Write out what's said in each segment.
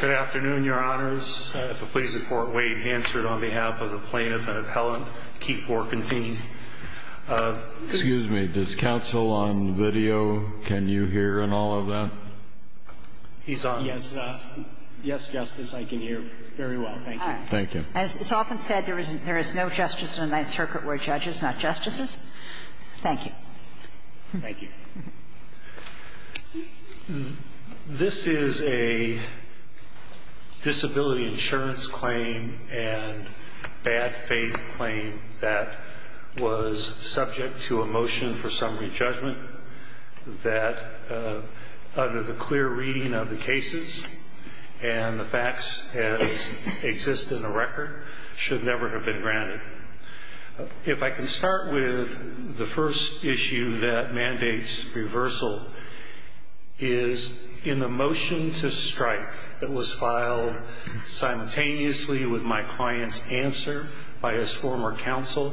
Good afternoon, Your Honors. If it please the Court, wait. Answered on behalf of the plaintiff and appellant, Keith Warkentin. Excuse me. Does counsel on video, can you hear in all of that? He's on. Yes. Yes, Justice. I can hear very well. Thank you. Thank you. As is often said, there is no justice in a Ninth Circuit where judge is not justices. Thank you. Thank you. This is a disability insurance claim and bad faith claim that was subject to a motion for summary judgment that under the clear reading of the cases and the facts as exist in the record, should never have been granted. If I can start with the first issue that mandates reversal is in the motion to strike that was filed simultaneously with my client's answer by his former counsel.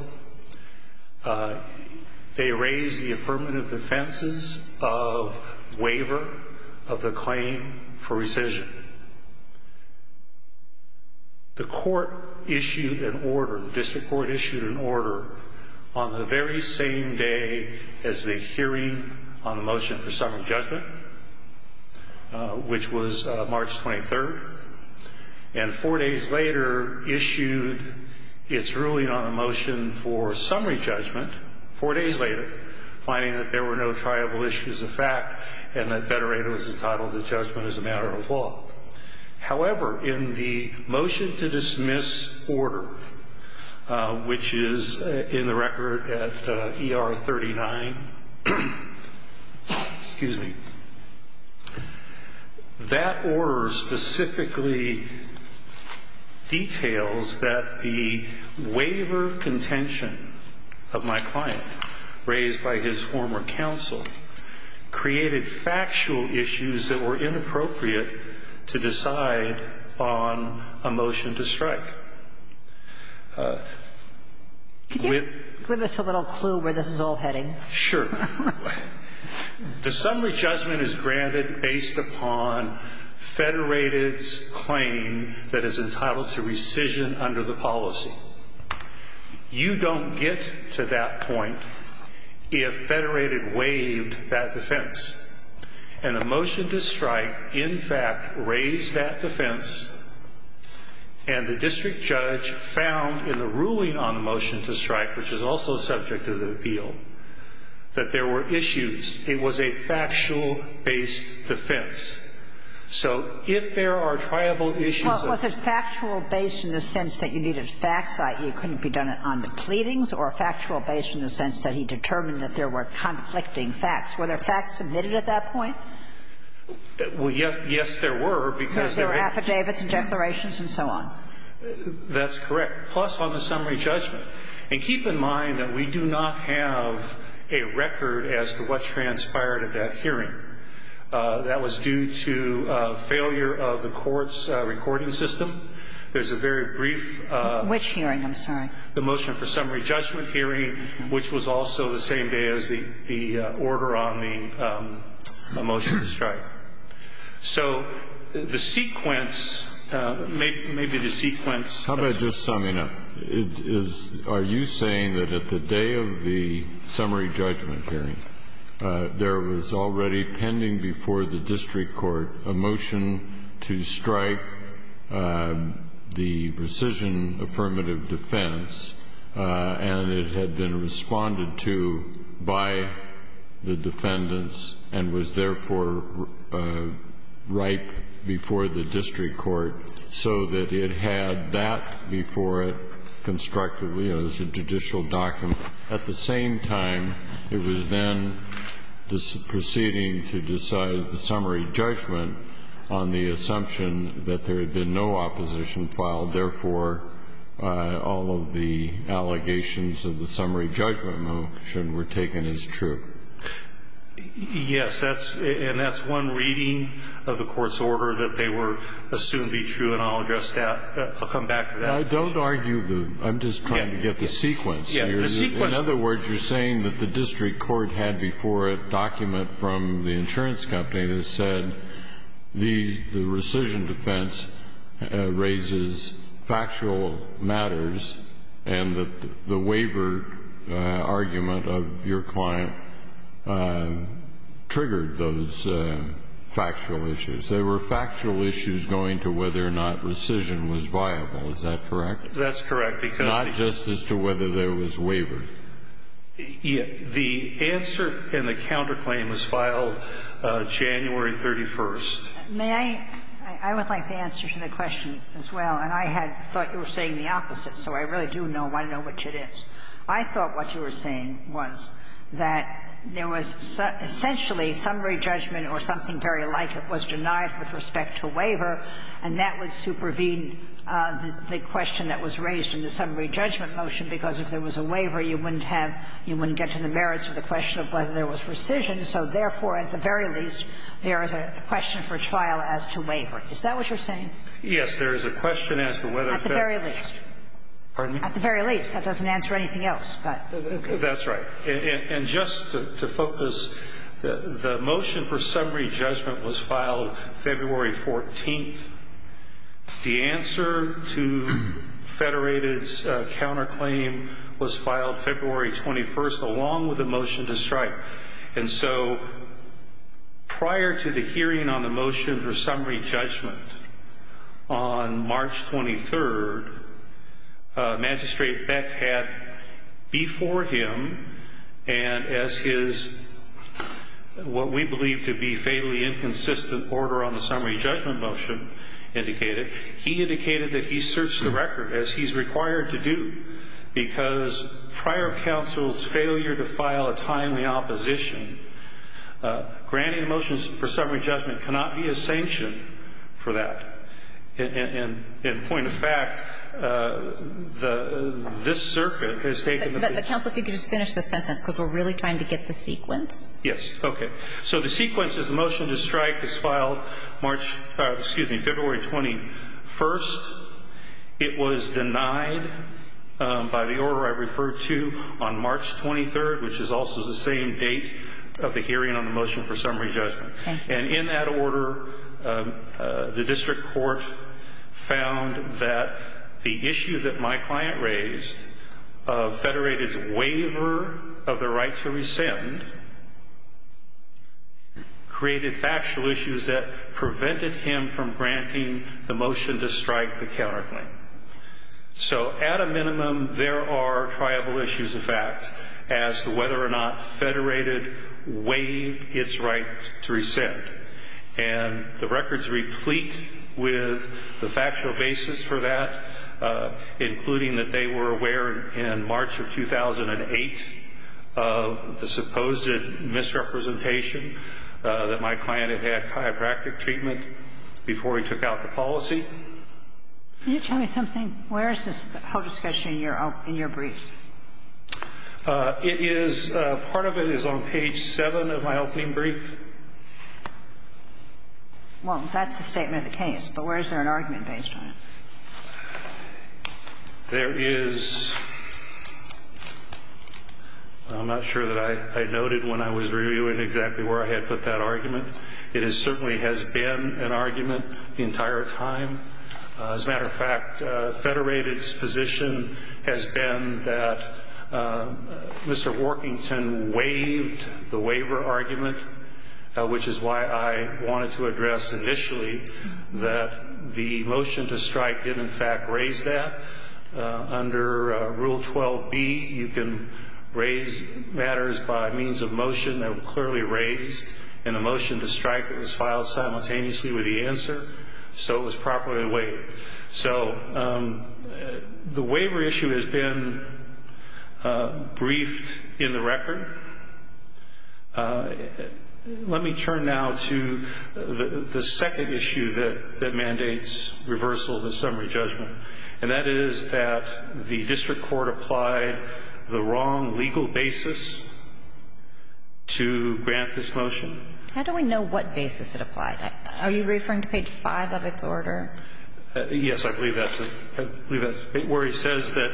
They raised the affirmative defenses of waiver of the claim for rescission. The court issued an order, the district court issued an order on the very same day as the hearing on the motion for summary judgment, which was March 23rd. And four days later issued its ruling on a motion for summary judgment, four days later, finding that there were no triable issues of fact and that federator was entitled to judgment as a matter of law. However, in the motion to dismiss order, which is in the record at ER 39, excuse me, that order specifically details that the waiver contention of my client raised by his former counsel created factual issues that were inappropriate to decide on a motion to strike. Could you give us a little clue where this is all heading? Sure. The summary judgment is granted based upon federated's claim that is entitled to rescission under the policy. You don't get to that point if federated waived that defense. And the motion to strike, in fact, raised that defense. And the district judge found in the ruling on the motion to strike, which is also subject to the appeal, that there were issues. It was a factual-based defense. So if there are triable issues of ---- Well, was it factual-based in the sense that you needed facts, i.e., it couldn't be done on the pleadings, or factual-based in the sense that he determined that there were conflicting facts? Were there facts submitted at that point? Well, yes, there were, because there were ---- Because there were affidavits and declarations and so on. That's correct, plus on the summary judgment. And keep in mind that we do not have a record as to what transpired at that hearing. That was due to failure of the court's recording system. There's a very brief ---- Which hearing? I'm sorry. The motion for summary judgment hearing, which was also the same day as the order on the motion to strike. So the sequence, maybe the sequence ---- How about just summing up? Are you saying that at the day of the summary judgment hearing, there was already pending before the district court a motion to strike the precision affirmative defense, and it had been responded to by the defendants and was, therefore, ripe before the district court so that it had that before it constructed, you know, as a judicial document. At the same time, it was then proceeding to decide the summary judgment on the assumption that there had been no opposition filed. Therefore, all of the allegations of the summary judgment motion were taken as true. Yes. And that's one reading of the court's order that they were assumed to be true. And I'll address that. I'll come back to that. I don't argue the ---- I'm just trying to get the sequence. In other words, you're saying that the district court had before it a document from the insurance company that said, the rescission defense raises factual matters and that the waiver argument of your client triggered those factual issues. There were factual issues going to whether or not rescission was viable. Is that correct? That's correct because ---- Not just as to whether there was waiver. The answer in the counterclaim was filed January 31st. May I? I would like the answer to the question as well. And I had thought you were saying the opposite, so I really do want to know which it is. I thought what you were saying was that there was essentially summary judgment or something very like it was denied with respect to waiver, and that would supervene the question that was raised in the summary judgment motion, because if there was a waiver, you wouldn't have ---- you wouldn't get to the merits of the question of whether there was rescission. So therefore, at the very least, there is a question for trial as to waiver. Is that what you're saying? Yes. There is a question as to whether ---- At the very least. Pardon me? At the very least. That doesn't answer anything else. That's right. And just to focus, the motion for summary judgment was filed February 14th. The answer to Federated's counterclaim was filed February 21st along with the motion to strike. And so prior to the hearing on the motion for summary judgment on March 23rd, Magistrate Beck had before him and as his what we believe to be fatally inconsistent order on the summary judgment motion indicated, he indicated that he searched the record, as he's required to do, because prior counsel's failure to file a timely opposition, granting a motion for summary judgment cannot be a sanction for that. And point of fact, this circuit has taken the ---- But counsel, if you could just finish the sentence, because we're really trying to get the sequence. Yes. Okay. So the sequence is the motion to strike is filed March ---- Excuse me, February 21st. It was denied by the order I referred to on March 23rd, which is also the same date of the hearing on the motion for summary judgment. Okay. And in that order, the district court found that the issue that my client raised of Federated's waiver of the right to rescind created factual issues that prevented him from granting the motion to strike the counterclaim. So at a minimum, there are triable issues of fact as to whether or not Federated waived its right to rescind. And the records replete with the factual basis for that, including that they were aware in March of 2008 of the supposed misrepresentation that my client had had chiropractic treatment before he took out the policy. Can you tell me something? Where is this whole discussion in your brief? It is ---- Part of it is on page 7 of my opening brief. Well, that's the statement of the case, but where is there an argument based on it? There is ---- I'm not sure that I noted when I was reviewing exactly where I had put that argument. It certainly has been an argument the entire time. As a matter of fact, Federated's position has been that Mr. Workington waived the waiver argument, which is why I wanted to address initially that the motion to strike did in fact raise that. Under Rule 12b, you can raise matters by means of motion that were clearly raised in a motion to strike that was filed simultaneously with the answer, so it was properly waived. So the waiver issue has been briefed in the record. Let me turn now to the second issue that mandates reversal of the summary judgment, and that is that the district court applied the wrong legal basis to grant this motion. How do we know what basis it applied? Are you referring to page 5 of its order? Yes, I believe that's it. I believe that's where he says that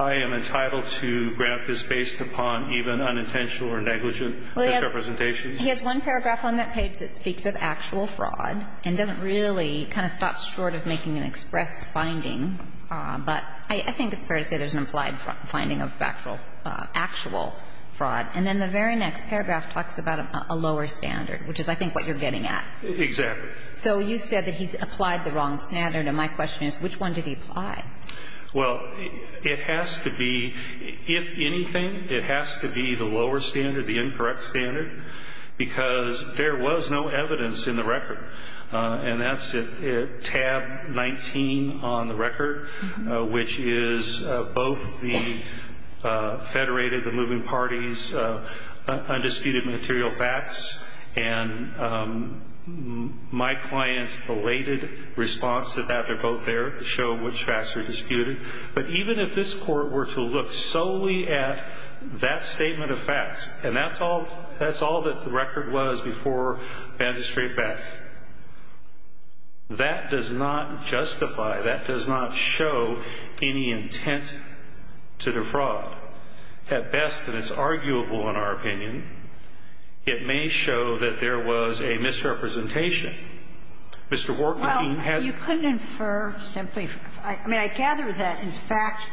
I am entitled to grant this based upon even unintentional or negligent misrepresentations. Well, he has one paragraph on that page that speaks of actual fraud and doesn't really kind of stop short of making an express finding. But I think it's fair to say there's an implied finding of actual fraud. And then the very next paragraph talks about a lower standard, which is, I think, what you're getting at. Exactly. So you said that he's applied the wrong standard, and my question is, which one did he apply? Well, it has to be, if anything, it has to be the lower standard, the incorrect standard, because there was no evidence in the record, and that's at tab 19 on the undisputed material facts. And my client's belated response to that, they're both there, to show which facts are disputed. But even if this Court were to look solely at that statement of facts, and that's all that the record was before bandage straight back, that does not justify, that does not show any intent to defraud. At best, and it's arguable in our opinion, it may show that there was a misrepresentation. Mr. Workman, if he had to. Well, you couldn't infer simply. I mean, I gather that, in fact,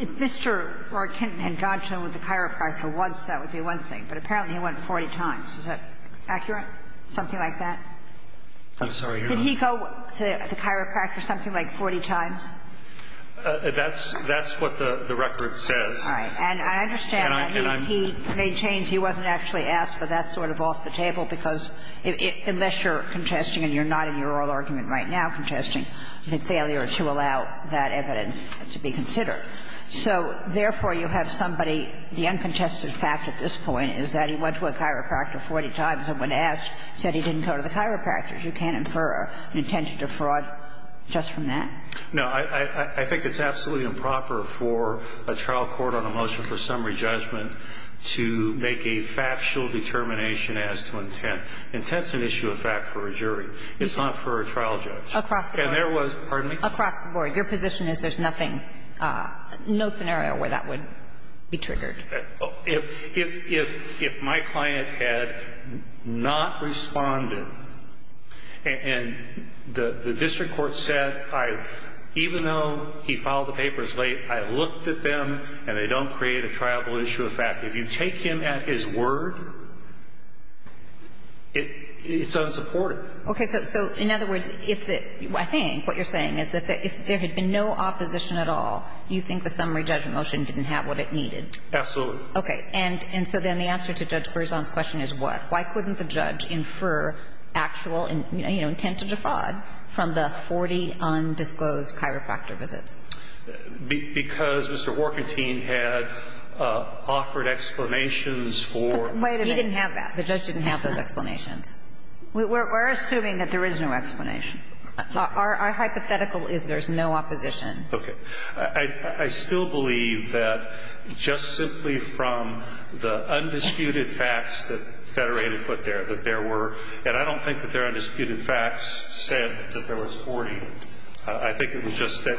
if Mr. Workman had gone to the chiropractor once, that would be one thing. But apparently he went 40 times. Is that accurate, something like that? I'm sorry, Your Honor. Did he go to the chiropractor something like 40 times? That's what the record says. All right. And I understand that. And I'm. He maintains he wasn't actually asked for that sort of off the table, because unless you're contesting and you're not in your oral argument right now contesting, the failure to allow that evidence to be considered. So, therefore, you have somebody, the uncontested fact at this point is that he went to a chiropractor 40 times and when asked, said he didn't go to the chiropractor. You can't infer an intention to fraud just from that? No. I think it's absolutely improper for a trial court on a motion for summary judgment to make a factual determination as to intent. Intent's an issue of fact for a jury. It's not for a trial judge. Across the board. And there was, pardon me? Across the board. Your position is there's nothing, no scenario where that would be triggered. If my client had not responded and the district court said I, even though he filed the papers late, I looked at them and they don't create a trialable issue of fact, if you take him at his word, it's unsupported. Okay. So in other words, if the, I think what you're saying is that if there had been no opposition at all, you think the summary judgment motion didn't have what it needed? Absolutely. Okay. And so then the answer to Judge Berzon's question is what? Why couldn't the judge infer actual, you know, intent to defraud from the 40 undisclosed chiropractor visits? Because Mr. Workentine had offered explanations for. Wait a minute. He didn't have that. The judge didn't have those explanations. We're assuming that there is no explanation. Our hypothetical is there's no opposition. Okay. I still believe that just simply from the undisputed facts that Federated put there, that there were, and I don't think that they're undisputed facts, said that there was 40. I think it was just that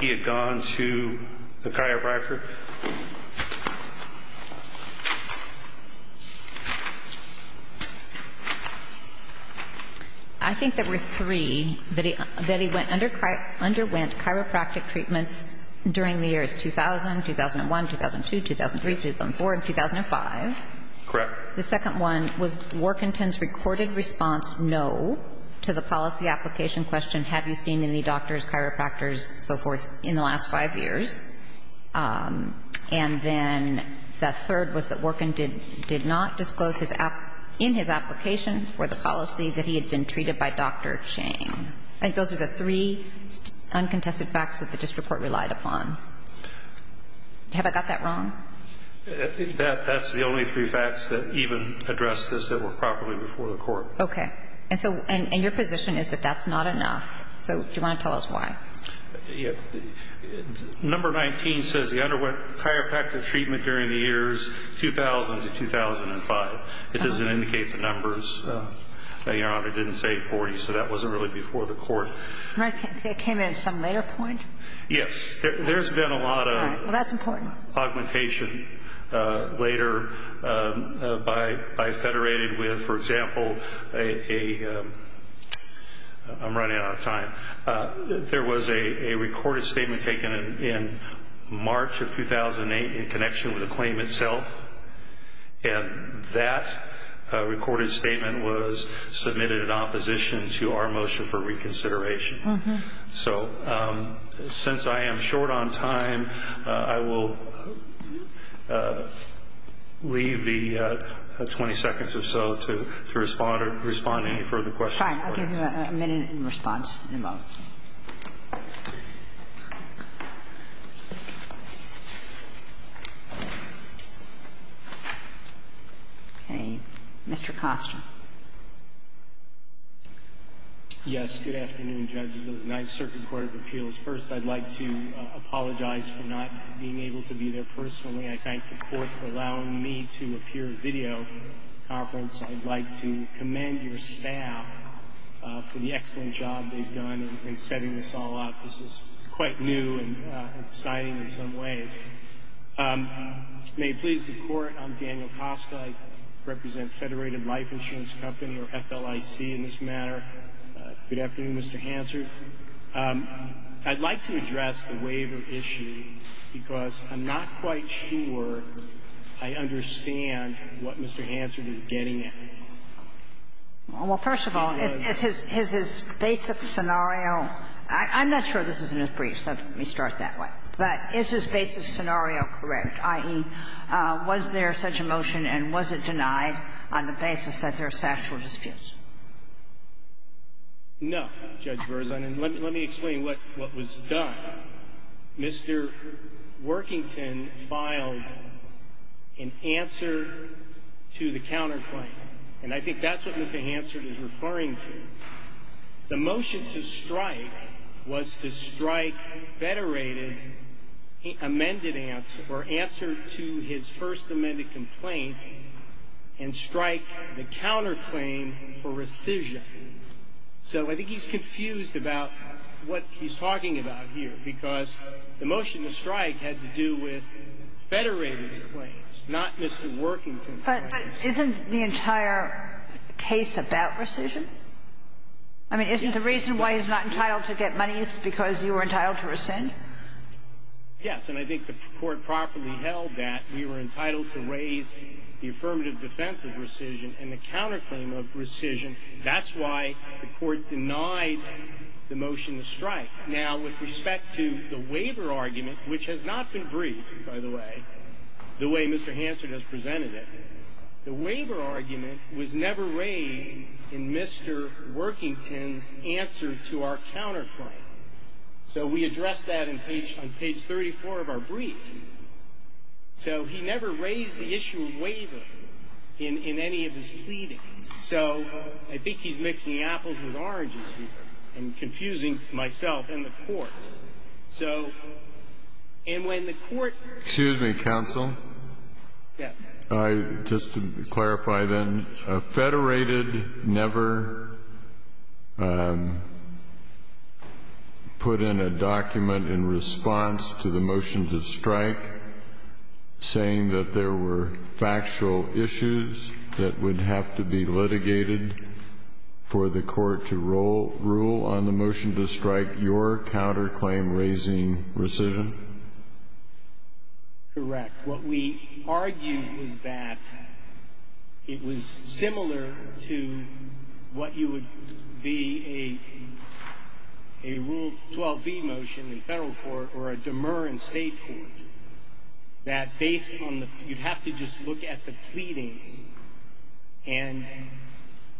he had gone to the chiropractor. I think there were three, that he underwent chiropractic treatments during the years 2000, 2001, 2002, 2003, 2004, and 2005. Correct. The second one was Workentine's recorded response, no, to the policy application question, have you seen any doctors, chiropractors, so forth, in the last 5 years. And then the third was that Worken did not disclose in his application for the policy that he had been treated by Dr. Chang. I think those are the three uncontested facts that the district court relied upon. Have I got that wrong? That's the only three facts that even address this that were properly before the court. Okay. And so, and your position is that that's not enough. So do you want to tell us why? Number 19 says he underwent chiropractic treatment during the years 2000 to 2005. It doesn't indicate the numbers. Your Honor, it didn't say 40, so that wasn't really before the court. It came in at some later point? Yes. There's been a lot of augmentation later by Federated with, for example, a, I'm running out of time. There was a recorded statement taken in March of 2008 in connection with the claim itself. And that recorded statement was submitted in opposition to our motion for reconsideration. So since I am short on time, I will leave the 20 seconds or so to respond to any further questions. All right. I'll give you a minute in response, in a moment. Okay. Mr. Koster. Yes. Good afternoon, Judges of the United Circuit Court of Appeals. First, I'd like to apologize for not being able to be there personally. I thank the Court for allowing me to appear at the video conference. I'd like to commend your staff for the excellent job they've done in setting this all up. This is quite new and exciting in some ways. May it please the Court, I'm Daniel Koster. I represent Federated Life Insurance Company, or FLIC in this matter. Good afternoon, Mr. Hansard. I'd like to address the waiver issue because I'm not quite sure I understand what Mr. Hansard is getting at. Well, first of all, is his basic scenario – I'm not sure this is in his brief, so let me start that way. But is his basic scenario correct, i.e., was there such a motion and was it denied on the basis that there are factual disputes? No, Judge Berzon, and let me explain what was done. Mr. Workington filed an answer to the counterclaim, and I think that's what Mr. Hansard is referring to. The motion to strike was to strike Federated's amended answer, or answer to his first amended complaint, and strike the counterclaim for rescission. So I think he's confused about what he's talking about here because the motion to strike had to do with Federated's claims, not Mr. Workington's claims. But isn't the entire case about rescission? I mean, isn't the reason why he's not entitled to get money is because you were entitled to rescind? Yes, and I think the Court properly held that. We were entitled to raise the affirmative defense of rescission and the counterclaim of rescission. That's why the Court denied the motion to strike. Now, with respect to the waiver argument, which has not been briefed, by the way, the way Mr. Hansard has presented it, the waiver argument was never raised in Mr. Workington's answer to our counterclaim. So we addressed that on page 34 of our brief. So he never raised the issue of waiver in any of his pleadings. So I think he's mixing apples with oranges here and confusing myself and the Court. So, and when the Court ---- Excuse me, counsel. Yes. Just to clarify then, Federated never put in a document in response to the motion to strike saying that there were factual issues that would have to be litigated for the Court to rule on the motion to strike your counterclaim raising rescission? Correct. What we argued was that it was similar to what you would be a Rule 12b motion in federal court or a demer in state court, that based on the ---- you'd have to just look at the pleadings and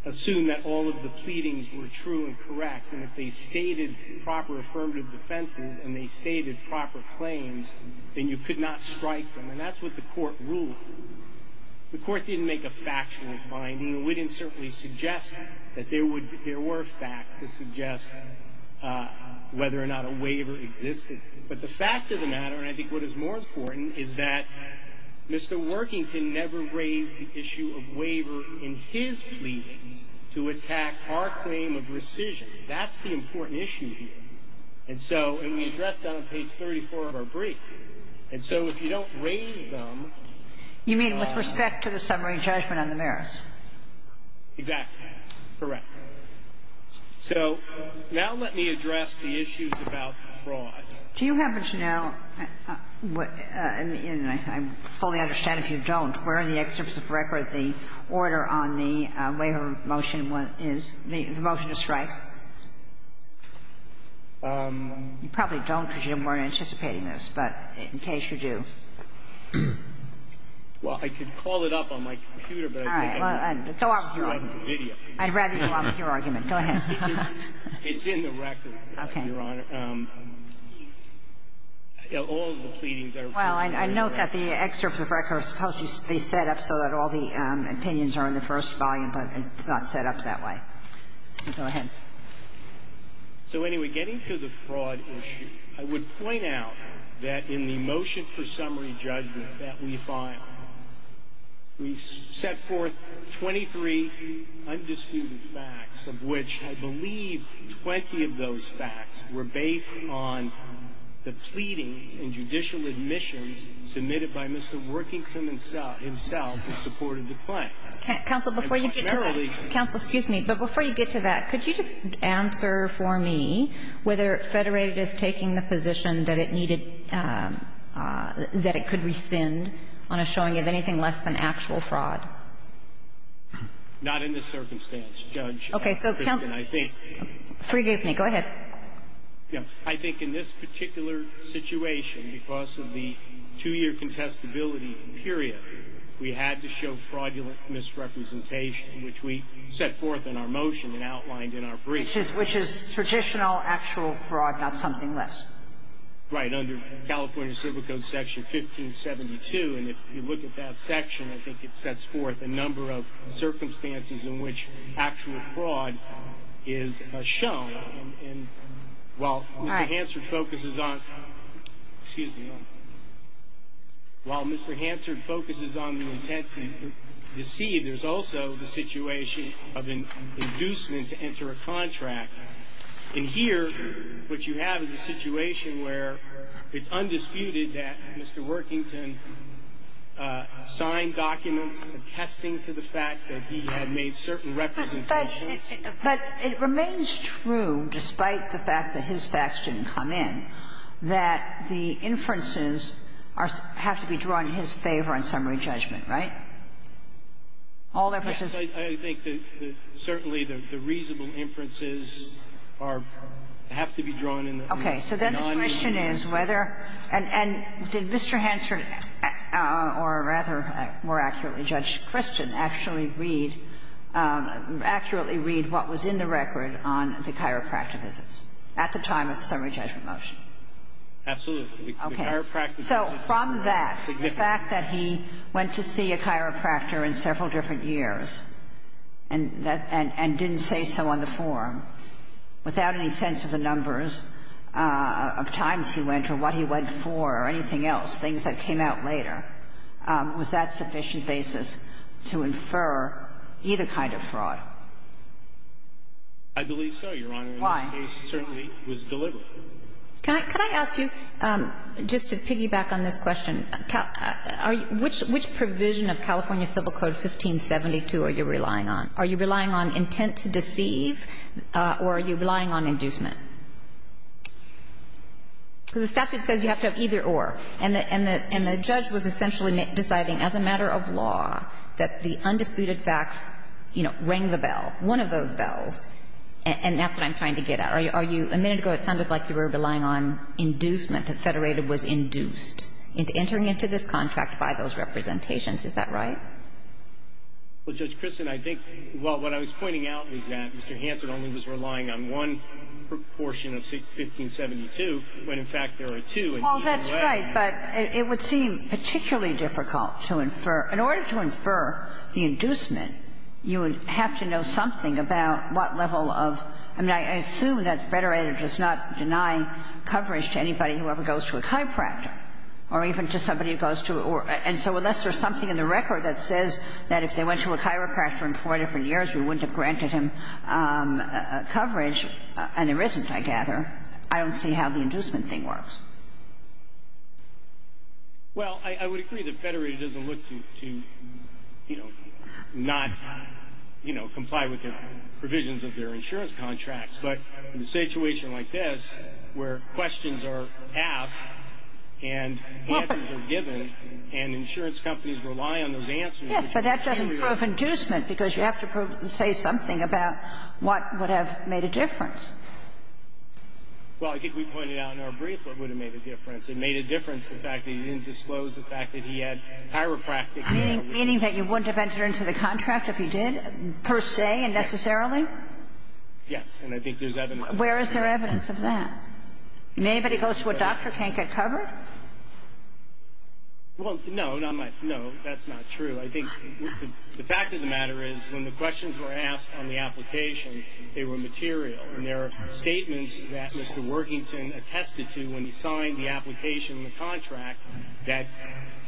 assume that all of the pleadings were true and correct. And if they stated proper affirmative defenses and they stated proper claims, then you could not strike them, and that's what the Court ruled. The Court didn't make a factual finding, and we didn't certainly suggest that there were facts to suggest whether or not a waiver existed. But the fact of the matter, and I think what is more important, is that Mr. Workington never raised the issue of waiver in his pleadings to attack our claim of rescission. That's the important issue here. And so we addressed that on page 34 of our brief. And so if you don't raise them ---- You mean with respect to the summary judgment on the merits? Exactly. Correct. So now let me address the issues about fraud. Do you happen to know, and I fully understand if you don't, where in the excerpts of record the order on the waiver motion is? The motion to strike? You probably don't because you weren't anticipating this, but in case you do. Well, I could call it up on my computer, but I don't think I can. All right. Go on with your argument. I'd rather you go on with your argument. Go ahead. It's in the record, Your Honor. Okay. All of the pleadings are true and correct. Well, I note that the excerpts of record are supposed to be set up so that all the opinions are in the first volume, but it's not set up that way. So go ahead. So anyway, getting to the fraud issue, I would point out that in the motion for summary judgment that we filed, we set forth 23 undisputed facts of which I believe 20 of those facts were based on the pleadings and judicial admissions submitted by Mr. Worthington himself who supported the claim. Counsel, before you get to that. Counsel, excuse me. But before you get to that, could you just answer for me whether Federated is taking the position that it needed, that it could rescind on a showing of anything less than actual fraud? Not in this circumstance, Judge Kagan. So counsel, forgive me. Go ahead. I think in this particular situation, because of the two-year contestability period, we had to show fraudulent misrepresentation, which we set forth in our motion and outlined in our brief. Which is traditional actual fraud, not something less. Right. Under California Civil Code Section 1572. And if you look at that section, I think it sets forth a number of circumstances in which actual fraud is shown. And while Mr. Hansard focuses on the intent to deceive, there's also the situation of an inducement to enter a contract. And here, what you have is a situation where it's undisputed that Mr. Worthington had signed documents attesting to the fact that he had made certain representations. But it remains true, despite the fact that his facts didn't come in, that the inferences have to be drawn in his favor on summary judgment, right? All inferences. Yes. I think that certainly the reasonable inferences are to have to be drawn in the non-reasoning. Okay. So then the question is whether — and did Mr. Hansard, or rather, more accurately, Judge Christian, actually read — accurately read what was in the record on the chiropractor visits at the time of the summary judgment motion? Absolutely. Okay. So from that, the fact that he went to see a chiropractor in several different years and didn't say so on the form, without any sense of the numbers of times he went or what he went for or anything else, things that came out later, was that sufficient basis to infer either kind of fraud? I believe so, Your Honor. Why? In this case, it certainly was deliberate. Can I ask you, just to piggyback on this question, which provision of California Civil Code 1572 are you relying on? Are you relying on intent to deceive, or are you relying on inducement? Because the statute says you have to have either-or. And the judge was essentially deciding as a matter of law that the undisputed facts, you know, rang the bell, one of those bells. And that's what I'm trying to get at. Are you — a minute ago, it sounded like you were relying on inducement, that Federated was induced into entering into this contract by those representations. Is that right? Well, Judge Kristen, I think what I was pointing out is that Mr. Hansen only was relying on one proportion of 1572, when in fact there are two. Well, that's right. But it would seem particularly difficult to infer. In order to infer the inducement, you would have to know something about what level of — I mean, I assume that Federated does not deny coverage to anybody who ever goes to a chiropractor, or even to somebody who goes to a — and so unless there's something in the record that says that if they went to a chiropractor in four different years, we wouldn't have granted him coverage, and there isn't, I gather, I don't see how the inducement thing works. Well, I would agree that Federated doesn't look to, you know, not, you know, comply with the provisions of their insurance contracts. But in a situation like this, where questions are asked and answers are given and insurance companies rely on those answers — Yes. But that doesn't prove inducement, because you have to say something about what would have made a difference. Well, I think we pointed out in our brief what would have made a difference. It made a difference the fact that he didn't disclose the fact that he had chiropractic care. Meaning that you wouldn't have entered into the contract if you did, per se and necessarily? Yes. And I think there's evidence of that. Where is there evidence of that? When anybody goes to a doctor, can't get covered? Well, no, not my — no, that's not true. I think the fact of the matter is when the questions were asked on the application, they were material. And there are statements that Mr. Worthington attested to when he signed the application and the contract that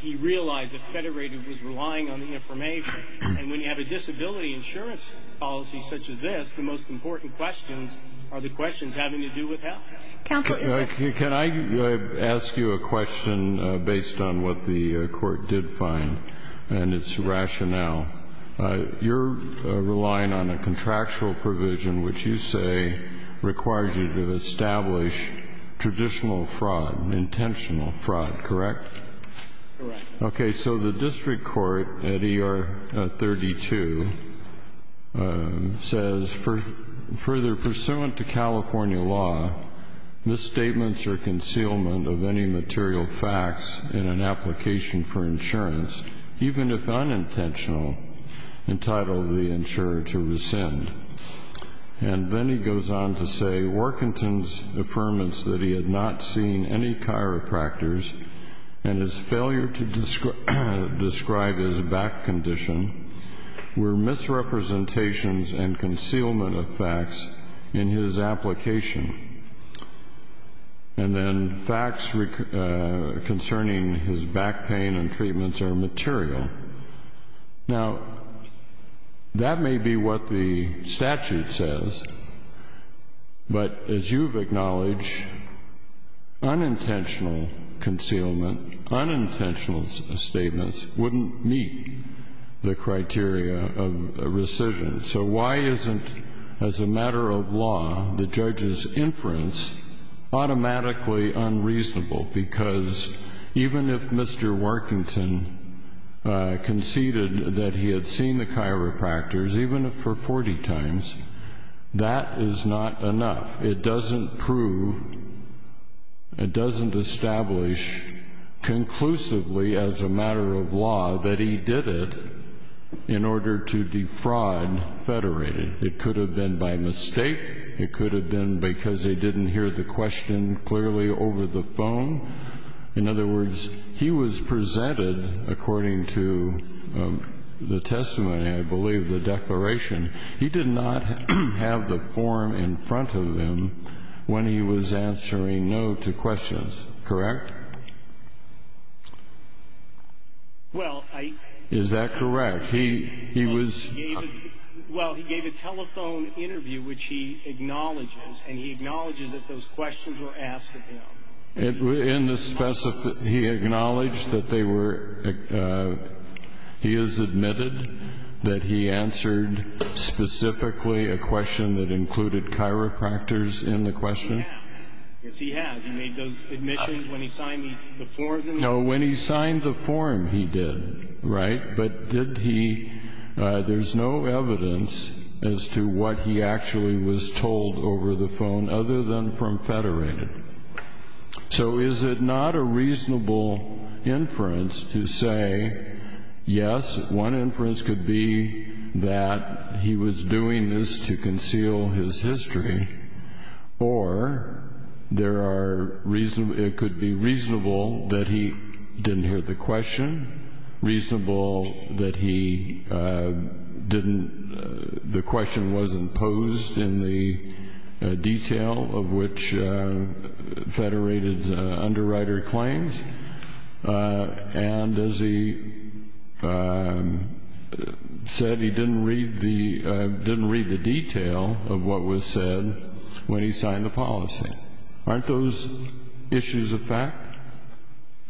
he realized that Federated was relying on the information. And when you have a disability insurance policy such as this, the most important questions are the questions having to do with health. Counsel? Can I ask you a question based on what the Court did find and its rationale? You're relying on a contractual provision which you say requires you to establish traditional fraud, intentional fraud, correct? Correct. Okay. So the district court at ER 32 says, further pursuant to California law, misstatements or concealment of any material facts in an application for insurance, even if unintentional, entitled the insurer to rescind. And then he goes on to say, Worthington's affirmance that he had not seen any chiropractors and his failure to describe his back condition were misrepresentations and concealment of facts in his application. And then facts concerning his back pain and treatments are material. Now, that may be what the statute says. But as you've acknowledged, unintentional concealment, unintentional statements wouldn't meet the criteria of rescission. So why isn't, as a matter of law, the judge's inference automatically unreasonable? Because even if Mr. Worthington conceded that he had seen the chiropractors, even if for 40 times, that is not enough. It doesn't prove, it doesn't establish conclusively as a matter of law that he did it in order to defraud Federated. It could have been by mistake. It could have been because they didn't hear the question clearly over the phone. In other words, he was presented, according to the testament, I believe, the declaration. He did not have the form in front of him when he was answering no to questions. Correct? Well, I... Is that correct? He was... Well, he gave a telephone interview, which he acknowledges. And he acknowledges that those questions were asked of him. He acknowledged that they were... He has admitted that he answered specifically a question that included chiropractors in the question? Yes, he has. He made those admissions when he signed the form. No, when he signed the form, he did. Right? But did he... There's no evidence as to what he actually was told over the phone other than from Federated. So is it not a reasonable inference to say, yes, one inference could be that he was doing this to conceal his history, or there are... It could be reasonable that he didn't hear the question, reasonable that he didn't... The question wasn't posed in the detail of which Federated's underwriter claims. And as he said, he didn't read the detail of what was said when he signed the policy. Aren't those issues a fact?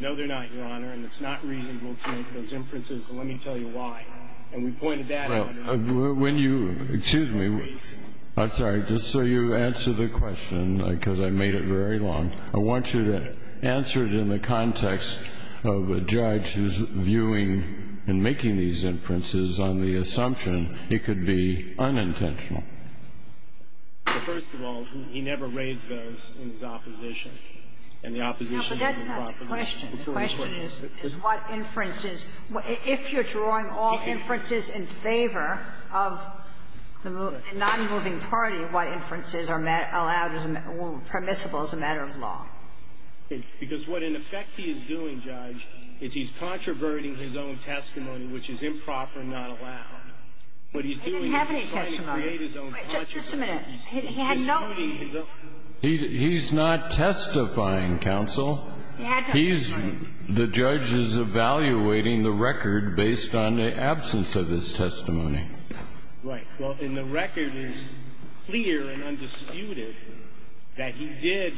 No, they're not, Your Honor. And it's not reasonable to make those inferences. And let me tell you why. And we pointed that out... Well, when you... Excuse me. I'm sorry. Just so you answer the question, because I made it very long, I want you to answer it in the context of a judge who's viewing and making these inferences on the assumption it could be unintentional. First of all, he never raised those in his opposition. And the opposition... No, but that's not the question. The question is, is what inferences, if you're drawing all inferences in favor of the non-moving party, what inferences are allowed or permissible as a matter of law? Because what, in effect, he is doing, Judge, is he's controverting his own testimony, which is improper and not allowed. He didn't have any testimony. Just a minute. He had no... He's not testifying, Counsel. He had no testimony. The judge is evaluating the record based on the absence of his testimony. Right. Well, and the record is clear and undisputed that he did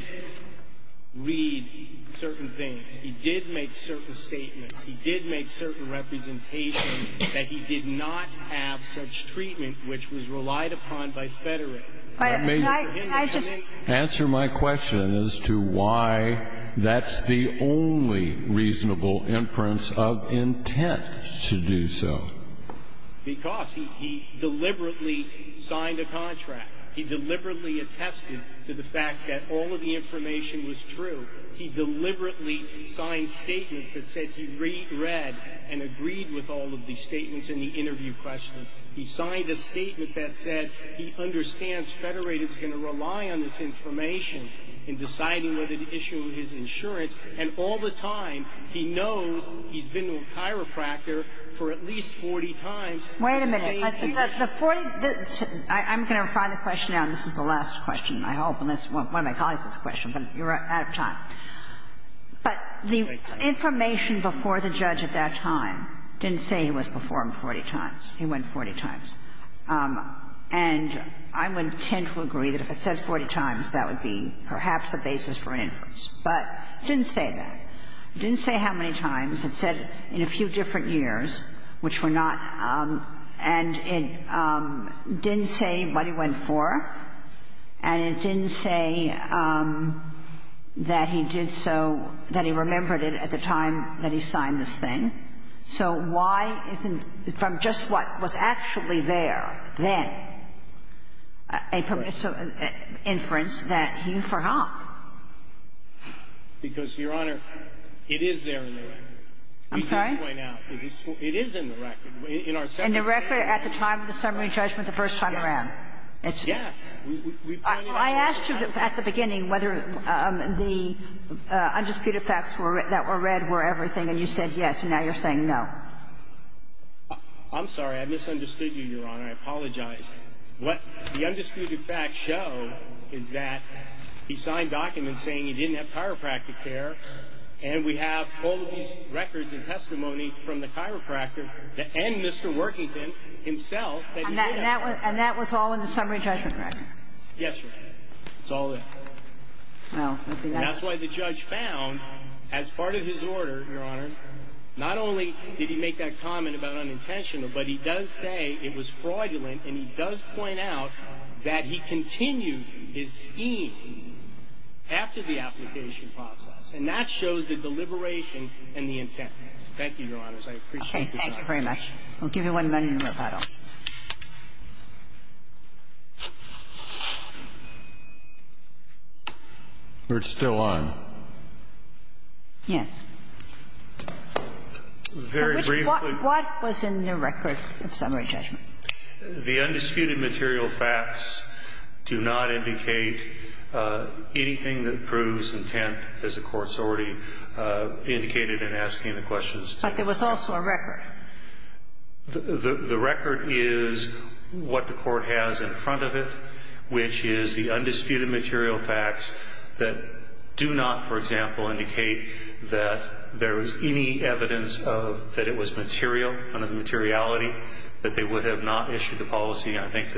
read certain things. He did make certain statements. He did make certain representations that he did not have such treatment, which was relied upon by Federate. But I just... Answer my question as to why that's the only reasonable inference of intent to do so. Because he deliberately signed a contract. He deliberately attested to the fact that all of the information was true. He deliberately signed statements that said he read and agreed with all of the statements in the interview questions. He signed a statement that said he understands Federate is going to rely on this information in deciding whether to issue his insurance. And all the time, he knows he's been to a chiropractor for at least 40 times... Wait a minute. The 40... I'm going to refine the question now. This is the last question, I hope, unless one of my colleagues has a question. But you're out of time. But the information before the judge at that time didn't say he was before him 40 times. He went 40 times. And I would tend to agree that if it says 40 times, that would be perhaps a basis for an inference. But it didn't say that. It didn't say how many times. It said in a few different years, which were not. And it didn't say what he went for. And it didn't say that he did so, that he remembered it at the time that he signed this thing. So why isn't, from just what was actually there then, a permissive inference that he forgot? Because, Your Honor, it is there in the record. I'm sorry? We did point out. It is in the record. In our... In the record at the time of the summary judgment the first time around? Yes. Yes. I asked you at the beginning whether the undisputed facts that were read were everything. And you said yes. And now you're saying no. I'm sorry. I misunderstood you, Your Honor. I apologize. What the undisputed facts show is that he signed documents saying he didn't have chiropractic care. And we have all of these records and testimony from the chiropractor and Mr. Worthington himself. And that was all in the summary judgment record? Yes, Your Honor. It's all there. Well, I think that's... And that's why the judge found, as part of his order, Your Honor, not only did he sign, but he does point out that he continued his scheme after the application process. And that shows the deliberation and the intent. Thank you, Your Honor. I appreciate your time. Okay. Thank you very much. I'll give you one minute of rebuttal. We're still on. Yes. Very briefly... What was in the record of summary judgment? The undisputed material facts do not indicate anything that proves intent, as the Court's already indicated in asking the questions. But there was also a record. The record is what the Court has in front of it, which is the undisputed material facts that do not, for example, indicate that there was any evidence that it was material, none of the materiality, that they would have not issued the policy. I think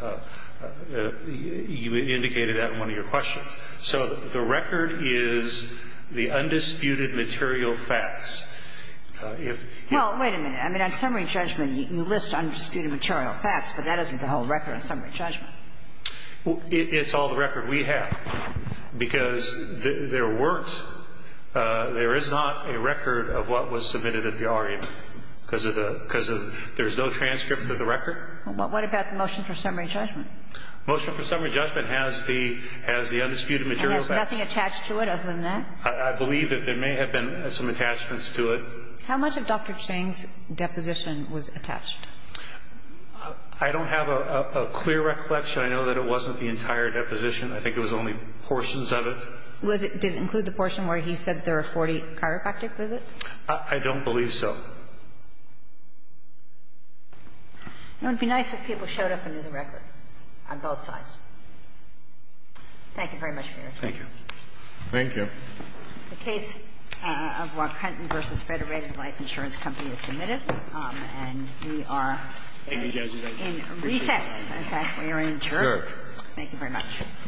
that you indicated that in one of your questions. So the record is the undisputed material facts. Well, wait a minute. I mean, on summary judgment, you list undisputed material facts, but that isn't the whole record on summary judgment. It's all the record we have. Because there is not a record of what was submitted at the argument, because there's no transcript of the record. What about the motion for summary judgment? Motion for summary judgment has the undisputed material facts. And there's nothing attached to it other than that? I believe that there may have been some attachments to it. How much of Dr. Chang's deposition was attached? I don't have a clear recollection. I know that it wasn't the entire deposition. I think it was only portions of it. Did it include the portion where he said there were 40 chiropractic visits? I don't believe so. It would be nice if people showed up and knew the record on both sides. Thank you very much for your time. Thank you. Thank you. The case of Waukenton v. Federated Life Insurance Company is submitted. And we are in recess. In fact, we are adjourned. Thank you very much. Thank you.